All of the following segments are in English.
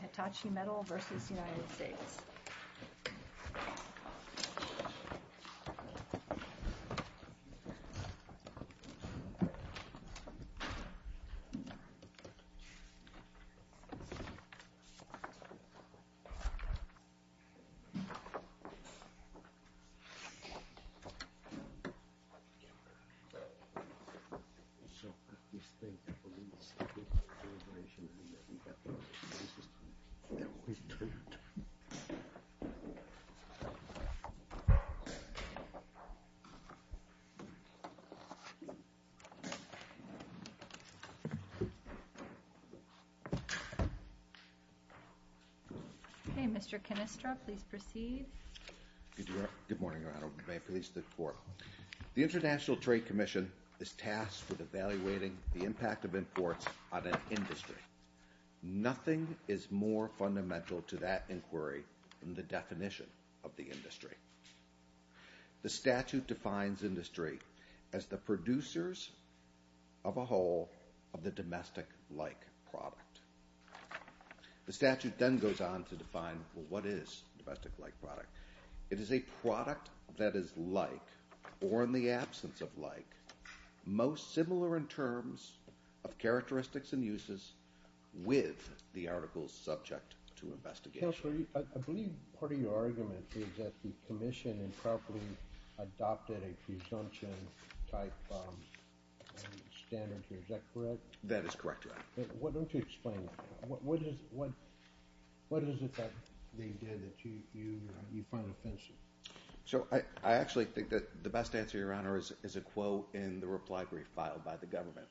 HITACHI MEDAL VERSUS UNITED STATES. THE INTERNATIONAL TRADE COMMISSION IS TASKED WITH EVALUATING THE IMPACT OF IMPORTS ON AN INDUSTRY. NOTHING IS MORE FUNDAMENTAL TO THAT INQUIRY THAN THE DEFINITION OF THE INDUSTRY. THE STATUTE DEFINES INDUSTRY AS THE PRODUCERS OF A WHOLE OF THE DOMESTIC-LIKE PRODUCT. THE STATUTE THEN GOES ON TO DEFINE WHAT IS DOMESTIC-LIKE PRODUCT. IT IS A PRODUCT THAT IS LIKE, OR IN THE ABSENCE OF LIKE, MOST SIMILAR IN TERMS OF CHARACTERISTICS AND USES WITH THE ARTICLES SUBJECT TO INVESTIGATION. I BELIEVE PART OF YOUR ARGUMENT IS THAT THE COMMISSION INAPPROPRIATELY ADOPTED A PRESUMPTION TYPE OF STANDARDS. IS THAT CORRECT? THAT IS CORRECT. DON'T YOU EXPLAIN? WHAT IS IT THAT THEY DID THAT YOU FIND OFFENSIVE? I ACTUALLY THINK THAT THE BEST ANSWER, YOUR HONOR, IS A QUOTE IN THE REPLY BRIEF FILED BY THE GOVERNMENT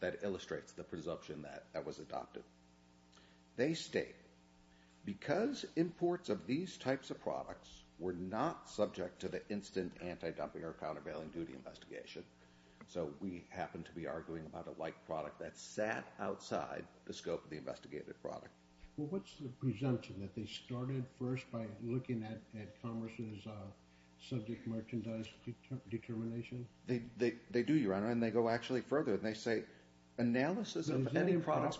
THAT ILLUSTRATES THE PRESUMPTION THAT WAS ADOPTED. THEY STATE, BECAUSE IMPORTS OF THESE TYPES OF PRODUCTS WERE NOT SUBJECT TO THE INSTANT ANTI-DUMPING OR COUNTERBAILING DUTY INVESTIGATION, SO WE HAPPEN TO BE ARGUING ABOUT A LIKE PRODUCT THAT SAT OUTSIDE THE SCOPE OF THE INVESTIGATED PRODUCT. WHAT IS THE PRESUMPTION THAT THEY STARTED FIRST BY LOOKING AT CONGRESS' SUBJECT MERCHANDISE DETERMINATION? THEY DO, YOUR HONOR, AND THEY GO ACTUALLY FURTHER, AND THEY SAY ANALYSIS OF ANY PRODUCT,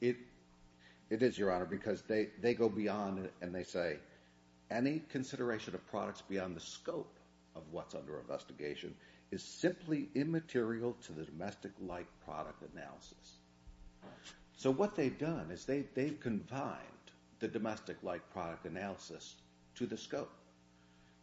IT IS, YOUR HONOR, BECAUSE THEY GO BEYOND AND THEY SAY ANY CONSIDERATION OF PRODUCTS BEYOND THE SCOPE OF WHAT'S UNDER INVESTIGATION IS SIMPLY IMMATERIAL TO THE DOMESTIC-LIKE PRODUCT ANALYSIS. SO WHAT THEY'VE DONE IS THEY'VE CONFINED THE DOMESTIC-LIKE PRODUCT ANALYSIS TO THE SCOPE.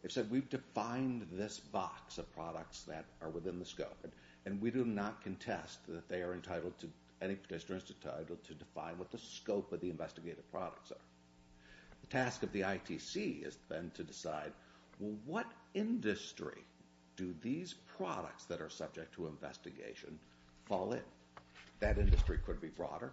THEY'VE SAID WE'VE DEFINED THIS BOX OF PRODUCTS THAT ARE WITHIN THE SCOPE, AND WE DO NOT CONTEST THAT THEY ARE ENTITLED TO, ANY CONSIDERATION IS ENTITLED TO DEFINE WHAT THE SCOPE OF THE INVESTIGATED PRODUCTS ARE. THE TASK OF THE ITC IS THEN TO DECIDE, WELL, WHAT INDUSTRY DO THESE PRODUCTS THAT ARE SUBJECT TO INVESTIGATION FALL IN? THAT INDUSTRY COULD BE BROADER.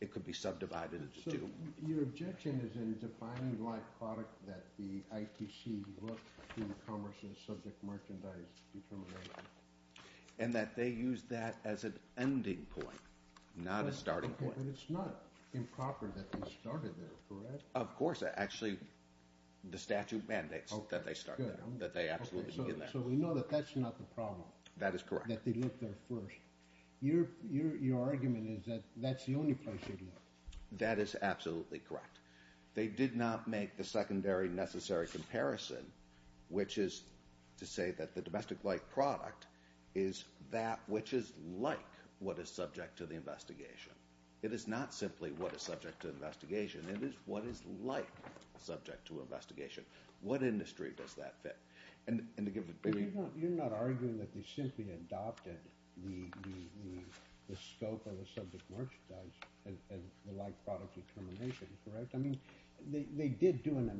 IT COULD BE SUBDIVIDED INTO TWO. YOUR OBJECTION IS IN DEFINING THE PRODUCT THAT THE ITC LOOKS TO IN COMMERCE AS SUBJECT MERCHANDISE DETERMINATION. AND THAT THEY USE THAT AS AN ENDING POINT, NOT A STARTING POINT. BUT IT'S NOT IMPROPER THAT THEY STARTED THERE, CORRECT? OF COURSE. ACTUALLY, THE STATUTE MANDATES THAT THEY START THERE, THAT THEY ABSOLUTELY BEGIN THERE. SO WE KNOW THAT THAT'S NOT THE PROBLEM. THAT IS CORRECT. THAT THEY LOOK THERE FIRST. YOUR ARGUMENT IS THAT THAT'S THE ONLY PLACE THEY LOOK. THAT IS ABSOLUTELY CORRECT. THEY DID NOT MAKE THE SECONDARY, NECESSARY COMPARISON, WHICH IS TO SAY THAT THE DOMESTIC-LIKE PRODUCT IS THAT WHICH IS LIKE WHAT IS SUBJECT TO THE INVESTIGATION. IT IS NOT SIMPLY WHAT IS SUBJECT TO INVESTIGATION, IT IS WHAT IS LIKE SUBJECT TO INVESTIGATION. WHAT INDUSTRY DOES THAT FIT? AND TO GIVE THE... YOU'RE NOT ARGUING THAT THEY SIMPLY ADOPTED THE SCOPE OF A SUBJECT MERCHANTIZE AND THE LIKE PRODUCT DETERMINATION, CORRECT? I MEAN, THEY DID DO AN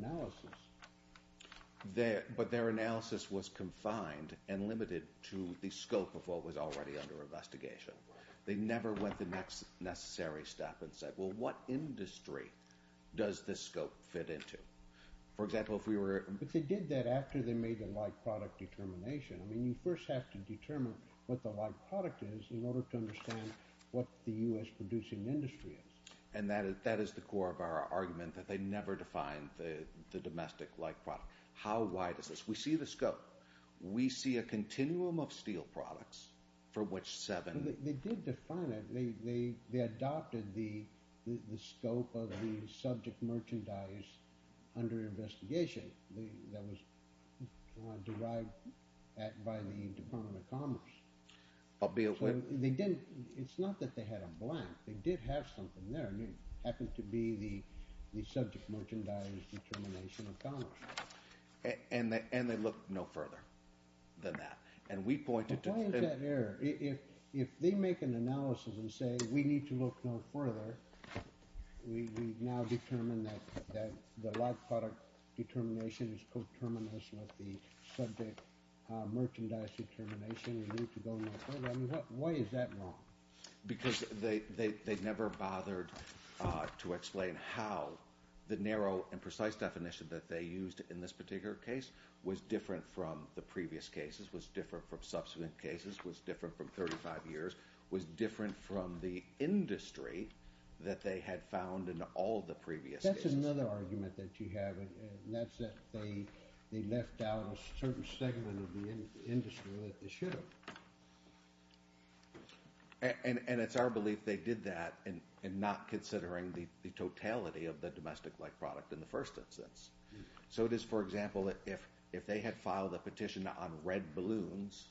ANALYSIS. BUT THEIR ANALYSIS WAS CONFINED AND LIMITED TO THE SCOPE OF WHAT WAS ALREADY UNDER INVESTIGATION. THEY NEVER WENT THE NEXT NECESSARY STEP AND SAID, WELL, WHAT INDUSTRY DOES THIS SCOPE FIT INTO? FOR EXAMPLE, IF WE WERE... BUT THEY DID THAT AFTER THEY MADE THE LIKE PRODUCT DETERMINATION. I MEAN, YOU FIRST HAVE TO DETERMINE WHAT THE LIKE PRODUCT IS IN ORDER TO UNDERSTAND WHAT THE U.S. PRODUCING INDUSTRY IS. AND THAT IS THE CORE OF OUR ARGUMENT, THAT THEY NEVER DEFINED THE DOMESTIC LIKE PRODUCT. HOW WIDE IS THIS? WE SEE THE SCOPE. WE SEE A CONTINUUM OF STEEL PRODUCTS, FOR WHICH SEVEN... THEY DID DEFINE IT. THEY ADOPTED THE SCOPE OF THE SUBJECT MERCHANDISE UNDER INVESTIGATION THAT WAS DERIVED BY THE DEPARTMENT OF COMMERCE. THEY DIDN'T... IT'S NOT THAT THEY HAD A BLANK. THEY DID HAVE SOMETHING THERE. AND IT HAPPENED TO BE THE SUBJECT MERCHANDISE DETERMINATION OF COMMERCE. AND THEY LOOKED NO FURTHER THAN THAT. AND WE POINTED TO... IF THEY MAKE AN ANALYSIS AND SAY, WE NEED TO LOOK NO FURTHER, WE NOW DETERMINE THAT THE LIKE PRODUCT DETERMINATION IS CO-TERMINUS WITH THE SUBJECT MERCHANDISE DETERMINATION. WE NEED TO GO NO FURTHER. I MEAN, WHY IS THAT WRONG? BECAUSE THEY NEVER BOTHERED TO EXPLAIN HOW THE NARROW AND PRECISE DEFINITION THAT THEY USED IN THIS PARTICULAR CASE WAS DIFFERENT FROM THE PREVIOUS CASES, WAS DIFFERENT FROM SUBSEQUENT CASES, WAS DIFFERENT FROM 35 YEARS, WAS DIFFERENT FROM THE INDUSTRY THAT THEY HAD FOUND IN ALL THE PREVIOUS CASES. THAT'S ANOTHER ARGUMENT THAT YOU HAVE, AND THAT'S THAT THEY LEFT OUT A CERTAIN SEGMENT OF THE INDUSTRY THAT THEY SHOULD HAVE. AND IT'S OUR BELIEF THEY DID THAT, AND NOT CONSIDERING THE TOTALITY OF THE DOMESTIC-LIKE PRODUCT IN THE FIRST INSTANCE. SO IT IS, FOR EXAMPLE, IF THEY HAD FILED A PETITION ON RED BALLOONS,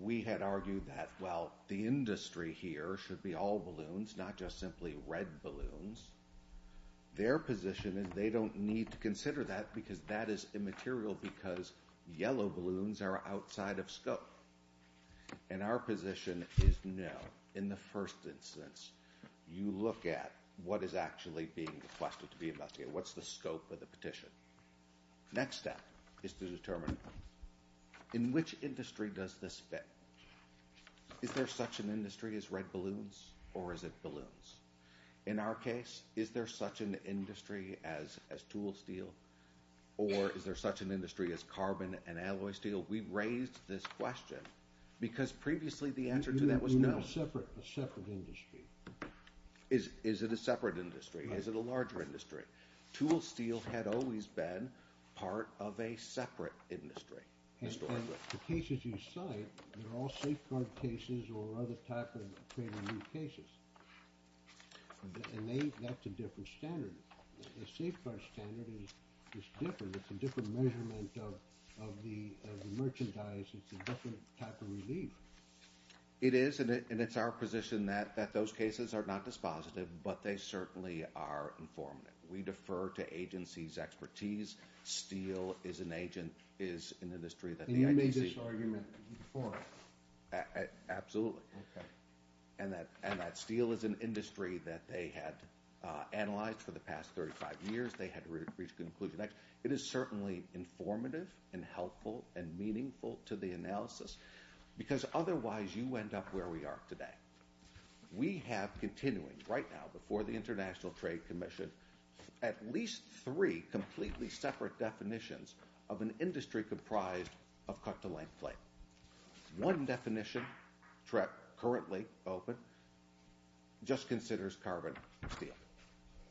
WE HAD ARGUED THAT, WELL, THE INDUSTRY HERE SHOULD BE ALL BALLOONS, NOT JUST SIMPLY RED BALLOONS. THEIR POSITION IS THEY DON'T NEED TO CONSIDER THAT BECAUSE THAT IS IMMATERIAL BECAUSE YELLOW BALLOONS ARE OUTSIDE OF SCOPE. AND OUR POSITION IS, NO. IN THE FIRST INSTANCE, YOU LOOK AT WHAT IS ACTUALLY BEING REQUESTED TO BE INVESTIGATED. WHAT'S THE SCOPE OF THE PETITION? NEXT STEP IS TO DETERMINE IN WHICH INDUSTRY DOES THIS FIT? IS THERE SUCH AN INDUSTRY AS RED BALLOONS OR IS IT BALLOONS? IN OUR CASE, IS THERE SUCH AN INDUSTRY AS TOOL STEEL OR IS THERE SUCH AN INDUSTRY AS CARBON AND ALLOY STEEL? WE RAISED THIS QUESTION BECAUSE PREVIOUSLY THE ANSWER TO THAT WAS NO. IT'S A SEPARATE INDUSTRY. IS IT A SEPARATE INDUSTRY? IS IT A LARGER INDUSTRY? TOOL STEEL HAD ALWAYS BEEN PART OF A SEPARATE INDUSTRY HISTORICALLY. THE CASES YOU CITE ARE ALL SAFECARD CASES OR OTHER TYPES OF CASES. THAT'S A DIFFERENT STANDARD. A SAFECARD STANDARD IS DIFFERENT. IT'S A DIFFERENT MEASUREMENT OF THE MERCHANDISE. IT'S A DIFFERENT TYPE OF RELIEF. IT IS AND IT'S OUR POSITION THAT THOSE CASES ARE NOT DISPOSITIVE BUT THEY CERTAINLY ARE INFORMATIVE. WE DEFER TO AGENCIES' EXPERTISE. STEEL IS AN INDUSTRY THAT THE ITC... YOU MADE THIS ARGUMENT BEFORE? ABSOLUTELY. AND THAT STEEL IS AN INDUSTRY THAT THEY HAD ANALYZED FOR THE PAST 35 YEARS. THEY HAD REACHED CONCLUSIONS. IT IS CERTAINLY INFORMATIVE AND HELPFUL AND MEANINGFUL TO THE ANALYSIS BECAUSE OTHERWISE YOU END UP WHERE WE ARE TODAY. WE HAVE CONTINUING RIGHT NOW BEFORE THE INTERNATIONAL TRADE COMMISSION AT LEAST THREE COMPLETELY SEPARATE DEFINITIONS OF AN INDUSTRY COMPRISED OF CUT-TO-LENGTH FLATE. ONE DEFINITION, CURRENTLY OPEN, JUST CONSIDERS CARBON AND STEEL.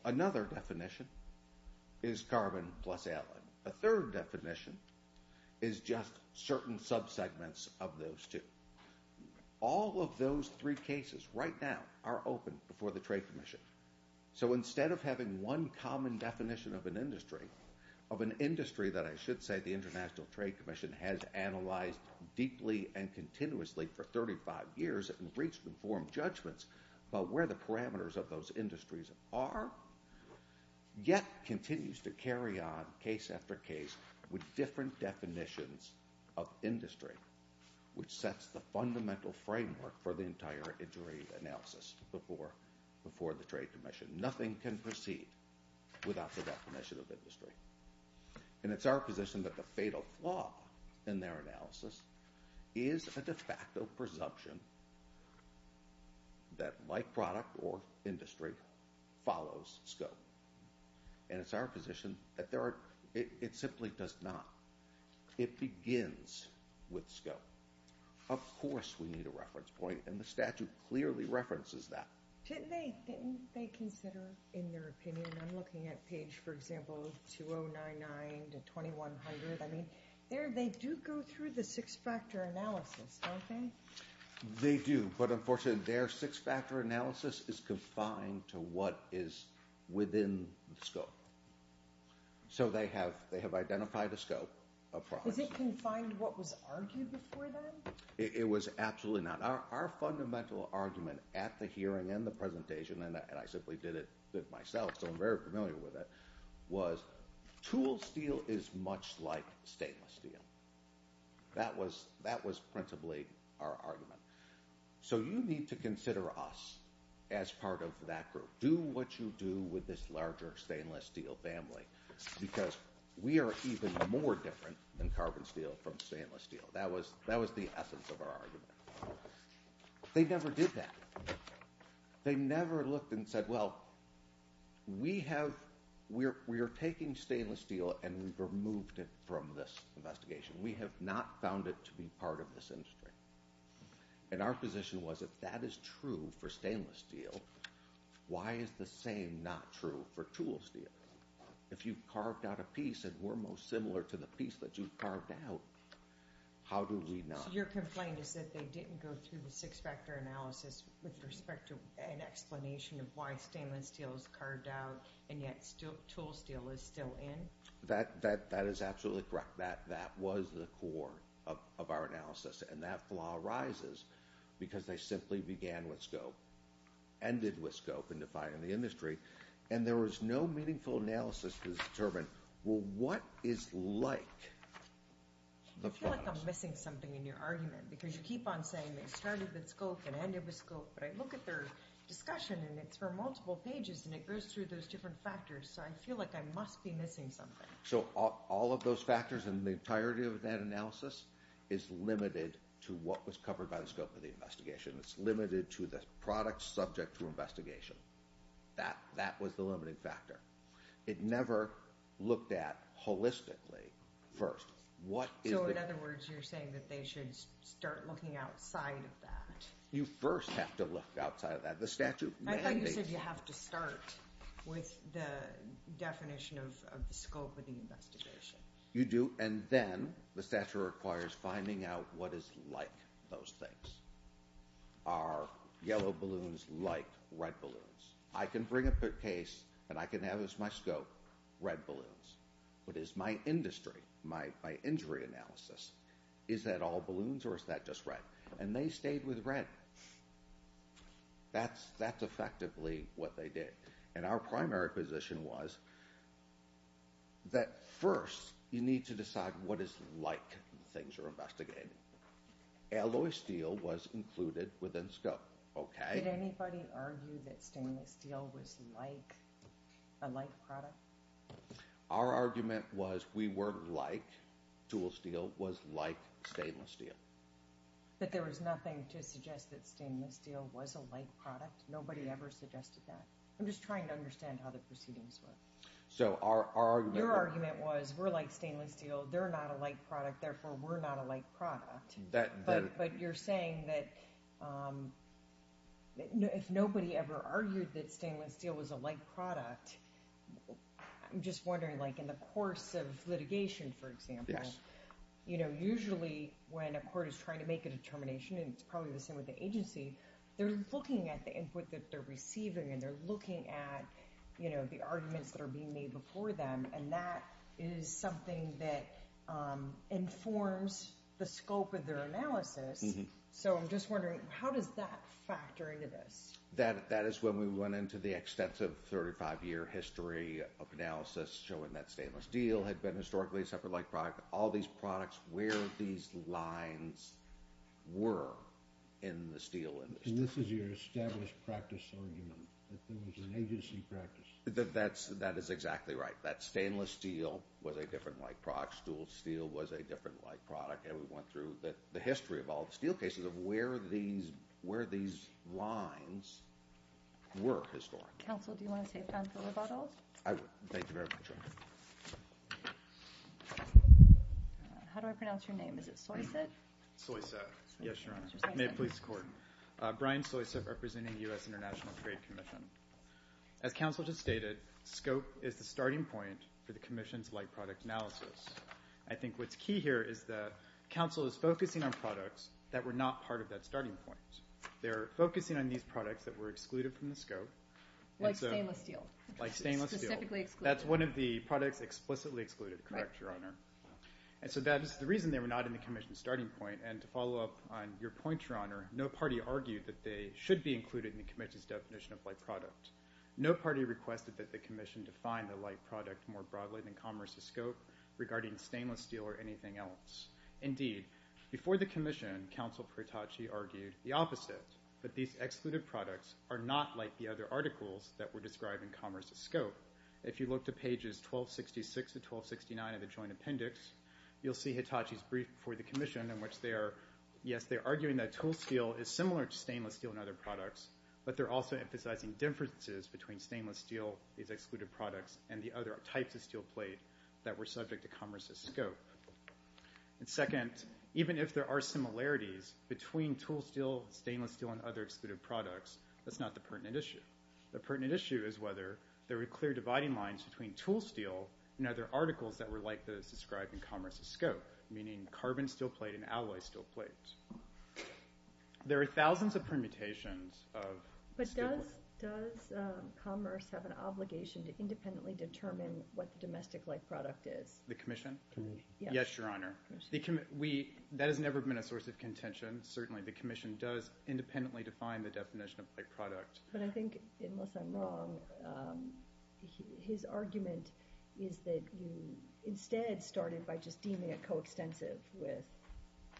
ANOTHER DEFINITION IS CARBON PLUS ALLEN. A THIRD DEFINITION IS JUST CERTAIN SUBSEGMENTS OF THOSE TWO. ALL OF THOSE THREE CASES RIGHT NOW ARE OPEN BEFORE THE TRADE COMMISSION. SO INSTEAD OF HAVING ONE COMMON DEFINITION OF AN INDUSTRY, OF AN INDUSTRY THAT I SHOULD SAY THE INTERNATIONAL TRADE COMMISSION HAS ANALYZED DEEPLY AND CONTINUOUSLY FOR 35 YEARS AND REACHED INFORMED JUDGMENTS ABOUT WHERE THE PARAMETERS OF THOSE INDUSTRIES ARE, YET CONTINUES TO CARRY ON CASE AFTER CASE WITH DIFFERENT DEFINITIONS OF INDUSTRY, WHICH SETS THE FUNDAMENTAL FRAMEWORK FOR THE ENTIRE INJURY ANALYSIS BEFORE THE TRADE COMMISSION. NOTHING CAN PROCEED WITHOUT THE DEFINITION OF INDUSTRY. AND IT'S OUR POSITION THAT THE FATAL FLAW IN THEIR ANALYSIS IS A DE FACTO PRESUMPTION THAT MY PRODUCT OR INDUSTRY FOLLOWS SCOPE. AND IT'S OUR POSITION THAT THERE ARE... IT SIMPLY DOES NOT. IT BEGINS WITH SCOPE. OF COURSE WE NEED A REFERENCE POINT, AND THE STATUTE CLEARLY REFERENCES THAT. Didn't they consider, in their opinion, and I'm looking at page, for example, 2099 to 2100, I mean, there they do go through the six-factor analysis, don't they? They do, but unfortunately their six-factor analysis is confined to what is within the scope. So they have identified a scope. Is it confined to what was argued before then? It was absolutely not. Our fundamental argument at the hearing and the presentation, and I simply did it myself, so I'm very familiar with it, was tool steel is much like stainless steel. That was principally our argument. So you need to consider us as part of that group. Do what you do with this larger stainless steel family, because we are even more different than carbon steel from stainless steel. That was the essence of our argument. They never did that. They never looked and said, well, we are taking stainless steel and we've removed it from this investigation. We have not found it to be part of this industry. And our position was if that is true for stainless steel, why is the same not true for tool steel? If you've carved out a piece and we're most similar to the piece that you've carved out, how do we not? Your complaint is that they didn't go through the six-factor analysis with respect to an explanation of why stainless steel is carved out and yet tool steel is still in? That is absolutely correct. That was the core of our analysis. And that flaw arises because they simply began with scope, ended with scope in defining the industry, and there was no meaningful analysis to determine, well, what is like the product? I feel like I'm missing something in your argument, because you keep on saying they started with scope and ended with scope, but I look at their discussion and it's for multiple pages and it goes through those different factors, so I feel like I must be missing something. So all of those factors in the entirety of that analysis is limited to what was covered by the scope of the investigation. It's limited to the product subject to investigation. That was the limiting factor. It never looked at holistically first. So in other words, you're saying that they should start looking outside of that. You first have to look outside of that. I thought you said you have to start with the definition of the scope of the investigation. You do, and then the statute requires finding out what is like those things. Are yellow balloons like red balloons? I can bring up a case and I can have as my scope red balloons. But is my industry, my injury analysis, is that all balloons or is that just red? And they stayed with red. That's effectively what they did. And our primary position was that first you need to decide what is like the things you're investigating. Alloy steel was included within scope. Did anybody argue that stainless steel was like a like product? Our argument was we were like tool steel was like stainless steel. But there was nothing to suggest that stainless steel was a like product. Nobody ever suggested that. I'm just trying to understand how the proceedings were. Your argument was we're like stainless steel. They're not a like product. Therefore, we're not a like product. But you're saying that if nobody ever argued that stainless steel was a like product, I'm just wondering like in the course of litigation, for example, usually when a court is trying to make a determination, and it's probably the same with the agency, they're looking at the input that they're receiving, and they're looking at the arguments that are being made before them. And that is something that informs the scope of their analysis. So I'm just wondering, how does that factor into this? That is when we went into the extensive 35-year history of analysis showing that stainless steel had been historically a separate like product. All these products, where these lines were in the steel industry. And this is your established practice argument, that there was an agency practice. That is exactly right. That stainless steel was a different like product. Stool steel was a different like product. And we went through the history of all the steel cases of where these lines were historically. Counsel, do you want to take time for rebuttals? I would. Thank you very much. How do I pronounce your name? Is it Soyseth? Soyseth. Yes, Your Honor. May it please the Court. Brian Soyseth representing the U.S. International Trade Commission. As Counsel just stated, scope is the starting point for the Commission's like product analysis. I think what's key here is that Counsel is focusing on products that were not part of that starting point. They're focusing on these products that were excluded from the scope. Like stainless steel. Like stainless steel. Specifically excluded. That's one of the products explicitly excluded, correct, Your Honor? Right. And so that is the reason they were not in the Commission's starting point. And to follow up on your point, Your Honor, no party argued that they should be included in the Commission's definition of like product. No party requested that the Commission define the like product more broadly than Commerce's scope regarding stainless steel or anything else. Indeed, before the Commission, Counsel Hitachi argued the opposite, that these excluded products are not like the other articles that were described in Commerce's scope. If you look to pages 1266 to 1269 of the Joint Appendix, you'll see Hitachi's brief before the Commission in which they are, yes, they're arguing that tool steel is similar to stainless steel and other products, but they're also emphasizing differences between stainless steel, these excluded products, and the other types of steel plate that were subject to Commerce's scope. And second, even if there are similarities between tool steel, stainless steel, and other excluded products, that's not the pertinent issue. The pertinent issue is whether there were clear dividing lines between tool steel and other articles that were like those described in Commerce's scope, meaning carbon steel plate and alloy steel plate. There are thousands of permutations of steel. But does Commerce have an obligation to independently determine what the domestic like product is? The Commission? Yes, Your Honor. That has never been a source of contention. Certainly the Commission does independently define the definition of like product. But I think, unless I'm wrong, his argument is that you instead started by just deeming it coextensive with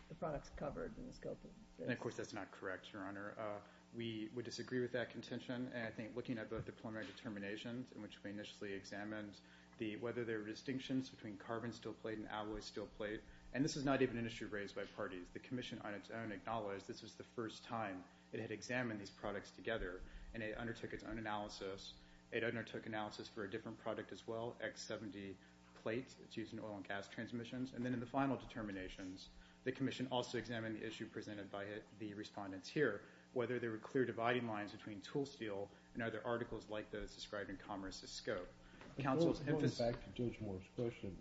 the products covered in the scope of this. And, of course, that's not correct, Your Honor. We would disagree with that contention, and I think looking at both the preliminary determinations in which we initially examined whether there were distinctions between carbon steel plate and alloy steel plate, and this is not even an issue raised by parties. The Commission on its own acknowledged this was the first time it had examined these products together, and it undertook its own analysis. It undertook analysis for a different product as well, X70 plate. It's used in oil and gas transmissions. And then in the final determinations, the Commission also examined the issue presented by the respondents here, whether there were clear dividing lines between tool steel and other articles like those described in Commerce's scope. Counsel's emphasis... Going back to Judge Moore's question,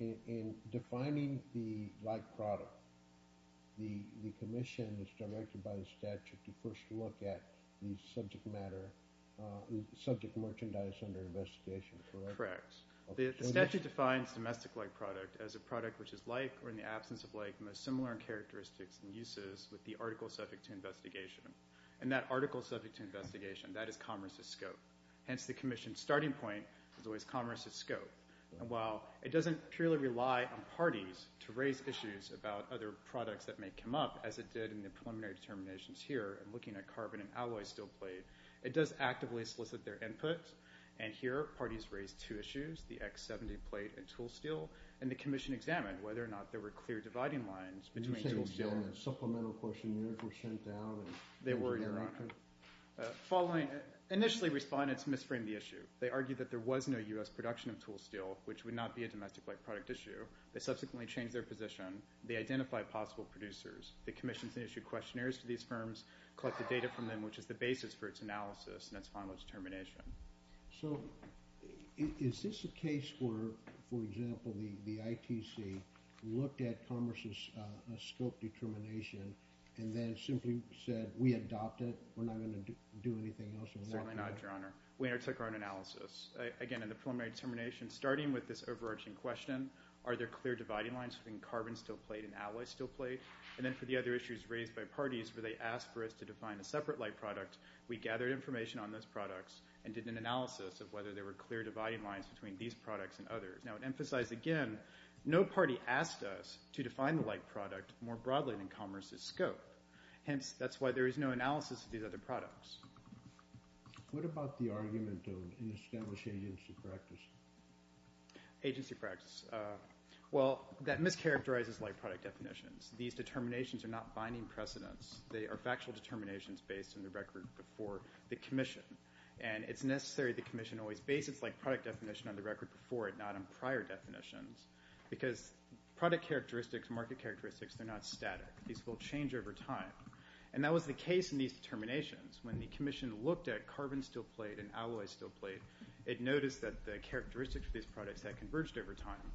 in defining the like product, the Commission is directed by the statute to first look at the subject matter, subject merchandise under investigation, correct? Correct. The statute defines domestic like product as a product which is like or in the absence of like most similar in characteristics and uses with the article subject to investigation. And that article subject to investigation, that is Commerce's scope. Hence, the Commission's starting point is always Commerce's scope. And while it doesn't purely rely on parties to raise issues about other products that may come up, as it did in the preliminary determinations here in looking at carbon and alloy steel plate, it does actively solicit their input. And here, parties raised two issues, the X70 plate and tool steel, and the Commission examined whether or not there were clear dividing lines between tool steel... Did you say the supplemental questionnaires were sent out? They were. Initially, respondents misframed the issue. They argued that there was no U.S. production of tool steel, which would not be a domestic like product issue. They subsequently changed their position. They identified possible producers. The Commission then issued questionnaires to these firms, collected data from them, which is the basis for its analysis and its final determination. So is this a case where, for example, the ITC looked at Commerce's scope determination and then simply said we adopt it, we're not going to do anything else? Certainly not, Your Honor. We undertook our own analysis. Again, in the preliminary determination, starting with this overarching question, are there clear dividing lines between carbon steel plate and alloy steel plate? And then for the other issues raised by parties, where they asked for us to define a separate like product, we gathered information on those products and did an analysis of whether there were clear dividing lines between these products and others. Now, to emphasize again, no party asked us to define the like product more broadly than Commerce's scope. Hence, that's why there is no analysis of these other products. What about the argument of an established agency practice? Agency practice. Well, that mischaracterizes like product definitions. These determinations are not binding precedents. They are factual determinations based on the record before the commission. And it's necessary the commission always bases like product definition on the record before it, not on prior definitions, because product characteristics, market characteristics, they're not static. These will change over time. And that was the case in these determinations. When the commission looked at carbon steel plate and alloy steel plate, it noticed that the characteristics of these products had converged over time.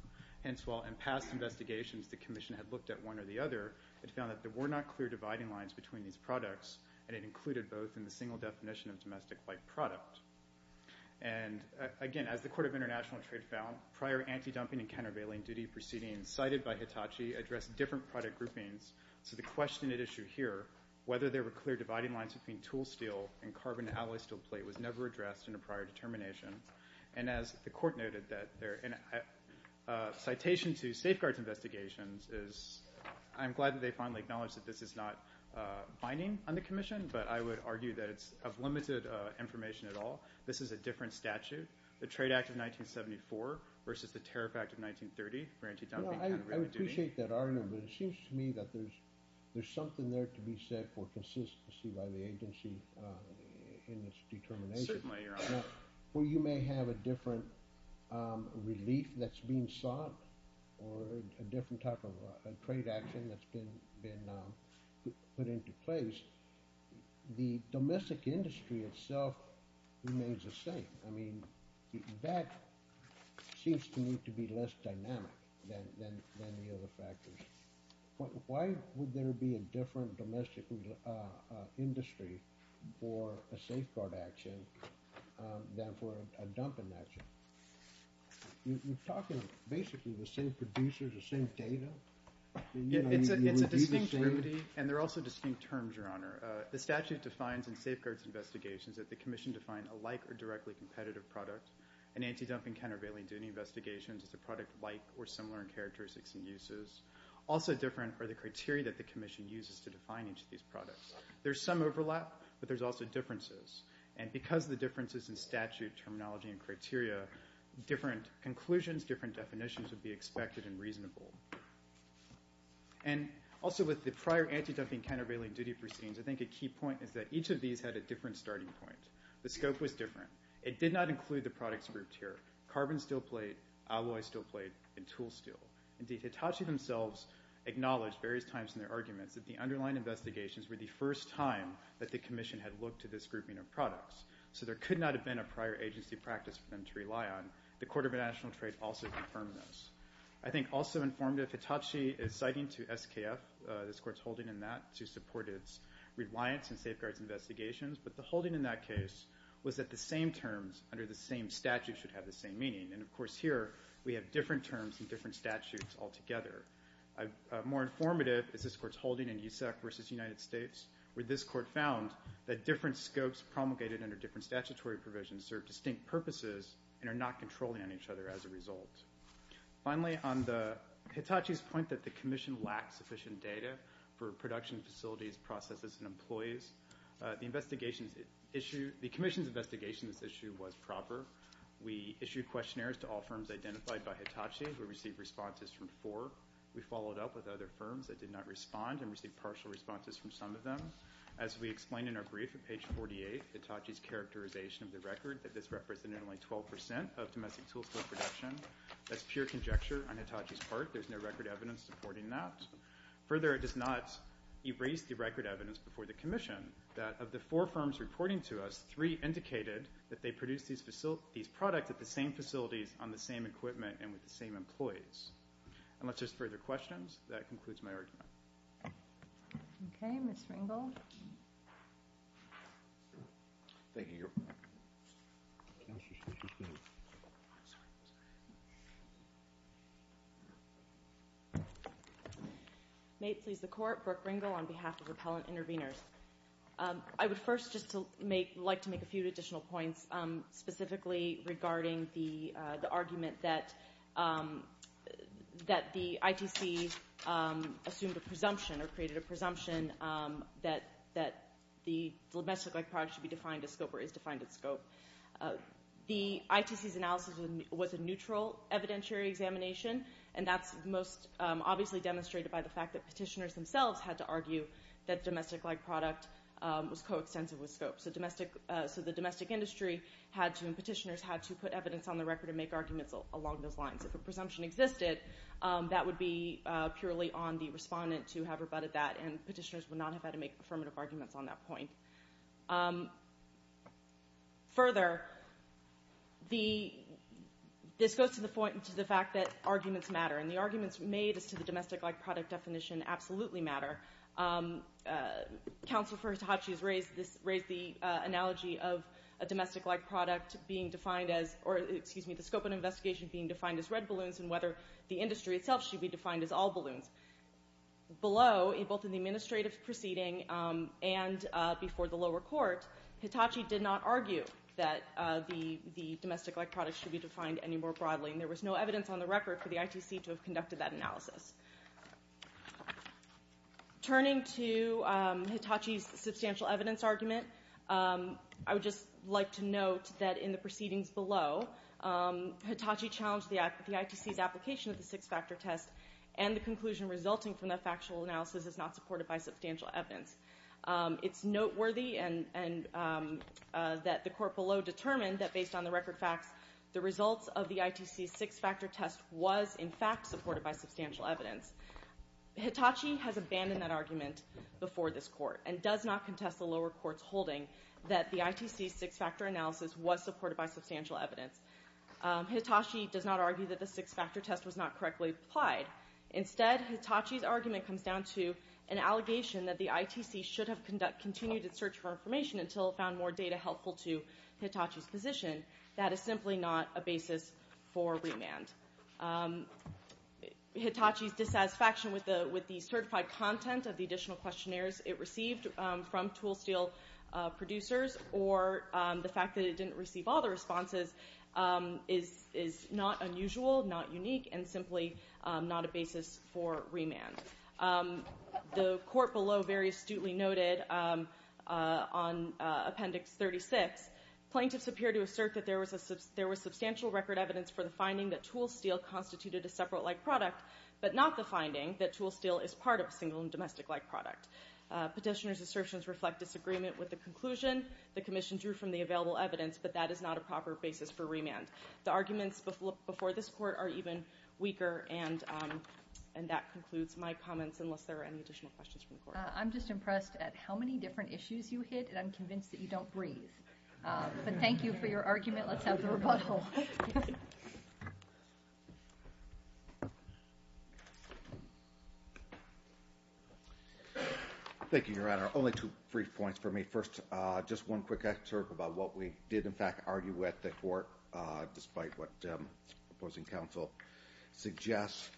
Hence, while in past investigations the commission had looked at one or the other, it found that there were not clear dividing lines between these products, and it included both in the single definition of domestic like product. And again, as the Court of International Trade found, prior anti-dumping and countervailing duty proceedings cited by Hitachi addressed different product groupings. So the question at issue here, whether there were clear dividing lines between tool steel and carbon alloy steel plate was never addressed in a prior determination. And as the court noted that there – citation to safeguards investigations is – I'm glad that they finally acknowledged that this is not binding on the commission, but I would argue that it's of limited information at all. This is a different statute. The Trade Act of 1974 versus the Tariff Act of 1930, where anti-dumping and countervailing duty – No, I would appreciate that argument, but it seems to me that there's something there to be said for consistency by the agency in its determination. Certainly, Your Honor. Now, where you may have a different relief that's being sought or a different type of trade action that's been put into place, the domestic industry itself remains the same. I mean, that seems to me to be less dynamic than the other factors. Why would there be a different domestic industry for a safeguard action than for a dumping action? You're talking basically the same producers, the same data. It's a distinct remedy, and they're also distinct terms, Your Honor. The statute defines in safeguards investigations that the commission define a like or directly competitive product. An anti-dumping, countervailing duty investigation is a product like or similar in characteristics and uses. Also different are the criteria that the commission uses to define each of these products. There's some overlap, but there's also differences. And because of the differences in statute, terminology, and criteria, different conclusions, different definitions would be expected and reasonable. And also with the prior anti-dumping, countervailing duty proceedings, I think a key point is that each of these had a different starting point. The scope was different. It did not include the products grouped here. Carbon steel plate, alloy steel plate, and tool steel. Indeed, Hitachi themselves acknowledged various times in their arguments that the underlying investigations were the first time that the commission had looked to this grouping of products. So there could not have been a prior agency practice for them to rely on. The Court of International Trade also confirmed this. I think also informed that Hitachi is citing to SKF, this Court's holding in that, to support its reliance in safeguards investigations. But the holding in that case was that the same terms under the same statute should have the same meaning. And, of course, here we have different terms in different statutes altogether. More informative is this Court's holding in USEC versus United States, where this Court found that different scopes promulgated under different statutory provisions serve distinct purposes and are not controlling on each other as a result. Finally, on Hitachi's point that the commission lacked sufficient data for production facilities, processes, and employees, the commission's investigation of this issue was proper. We issued questionnaires to all firms identified by Hitachi who received responses from four. We followed up with other firms that did not respond and received partial responses from some of them. As we explained in our brief at page 48, Hitachi's characterization of the record that this represented only 12% of domestic tools for production, that's pure conjecture on Hitachi's part. There's no record evidence supporting that. Further, it does not erase the record evidence before the commission that of the four firms reporting to us, three indicated that they produced these products at the same facilities on the same equipment and with the same employees. Unless there's further questions, that concludes my argument. Okay, Ms. Ringel. Thank you, Your Honor. May it please the Court, Brooke Ringel on behalf of Repellent Intervenors. I would first just like to make a few additional points specifically regarding the argument that the ITC assumed a presumption or created a presumption that the domestic-like product should be defined as scope or is defined as scope. The ITC's analysis was a neutral evidentiary examination, and that's most obviously demonstrated by the fact that petitioners themselves had to argue that domestic-like product was coextensive with scope. So the domestic industry and petitioners had to put evidence on the record and make arguments along those lines. If a presumption existed, that would be purely on the respondent to have rebutted that, and petitioners would not have had to make affirmative arguments on that point. Further, this goes to the fact that arguments matter, and the arguments made as to the domestic-like product definition absolutely matter. Counsel for Hitachi has raised the analogy of a domestic-like product being defined as, or excuse me, the scope of an investigation being defined as red balloons and whether the industry itself should be defined as all balloons. Below, both in the administrative proceeding and before the lower court, Hitachi did not argue that the domestic-like product should be defined any more broadly, and there was no evidence on the record for the ITC to have conducted that analysis. Turning to Hitachi's substantial evidence argument, I would just like to note that in the proceedings below, Hitachi challenged the ITC's application of the six-factor test, and the conclusion resulting from that factual analysis is not supported by substantial evidence. It's noteworthy that the court below determined that based on the record facts, the results of the ITC's six-factor test was in fact supported by substantial evidence. Hitachi has abandoned that argument before this court and does not contest the lower court's holding that the ITC's six-factor analysis was supported by substantial evidence. Hitachi does not argue that the six-factor test was not correctly applied. Instead, Hitachi's argument comes down to an allegation that the ITC should have continued its search for information until it found more data helpful to Hitachi's position. That is simply not a basis for remand. Hitachi's dissatisfaction with the certified content of the additional questionnaires it received from ToolSteel producers or the fact that it didn't receive all the responses is not unusual, not unique, and simply not a basis for remand. The court below very astutely noted on Appendix 36, plaintiffs appear to assert that there was substantial record evidence for the finding that ToolSteel constituted a separate-like product but not the finding that ToolSteel is part of a single and domestic-like product. Petitioners' assertions reflect disagreement with the conclusion the commission drew from the available evidence, but that is not a proper basis for remand. The arguments before this court are even weaker and that concludes my comments, unless there are any additional questions from the court. I'm just impressed at how many different issues you hit and I'm convinced that you don't breathe. But thank you for your argument. Let's have the rebuttal. Thank you, Your Honor. Only two brief points for me. First, just one quick excerpt about what we did, in fact, argue with the court despite what opposing counsel suggests.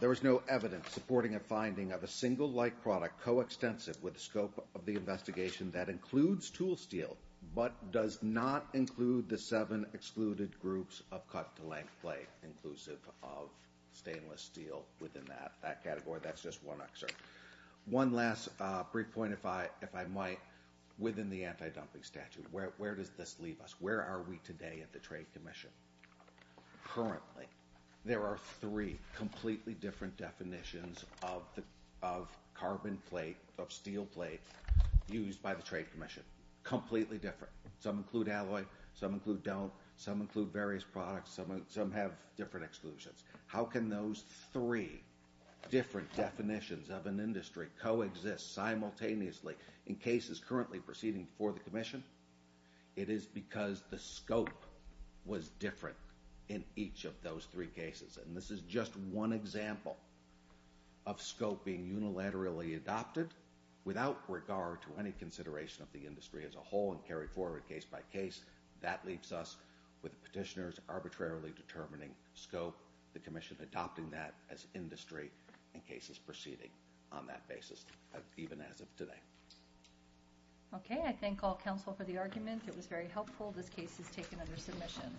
There was no evidence supporting a finding of a single-like product coextensive with the scope of the investigation that includes ToolSteel but does not include the seven excluded groups of cut-to-length plate inclusive of stainless steel within that category. That's just one excerpt. One last brief point, if I might, within the anti-dumping statute. Where does this leave us? Where are we today at the Trade Commission? Currently, there are three completely different definitions of carbon plate, of steel plate, used by the Trade Commission. Completely different. Some include alloy, some include don't, some include various products, some have different exclusions. How can those three different definitions of an industry coexist simultaneously in cases currently proceeding before the Commission? It is because the scope was different in each of those three cases. And this is just one example of scope being unilaterally adopted without regard to any consideration of the industry as a whole and carried forward case by case. That leaves us with petitioners arbitrarily determining scope, the Commission adopting that as industry in cases proceeding on that basis, even as of today. Okay, I thank all counsel for the argument. It was very helpful. This case is taken under submission.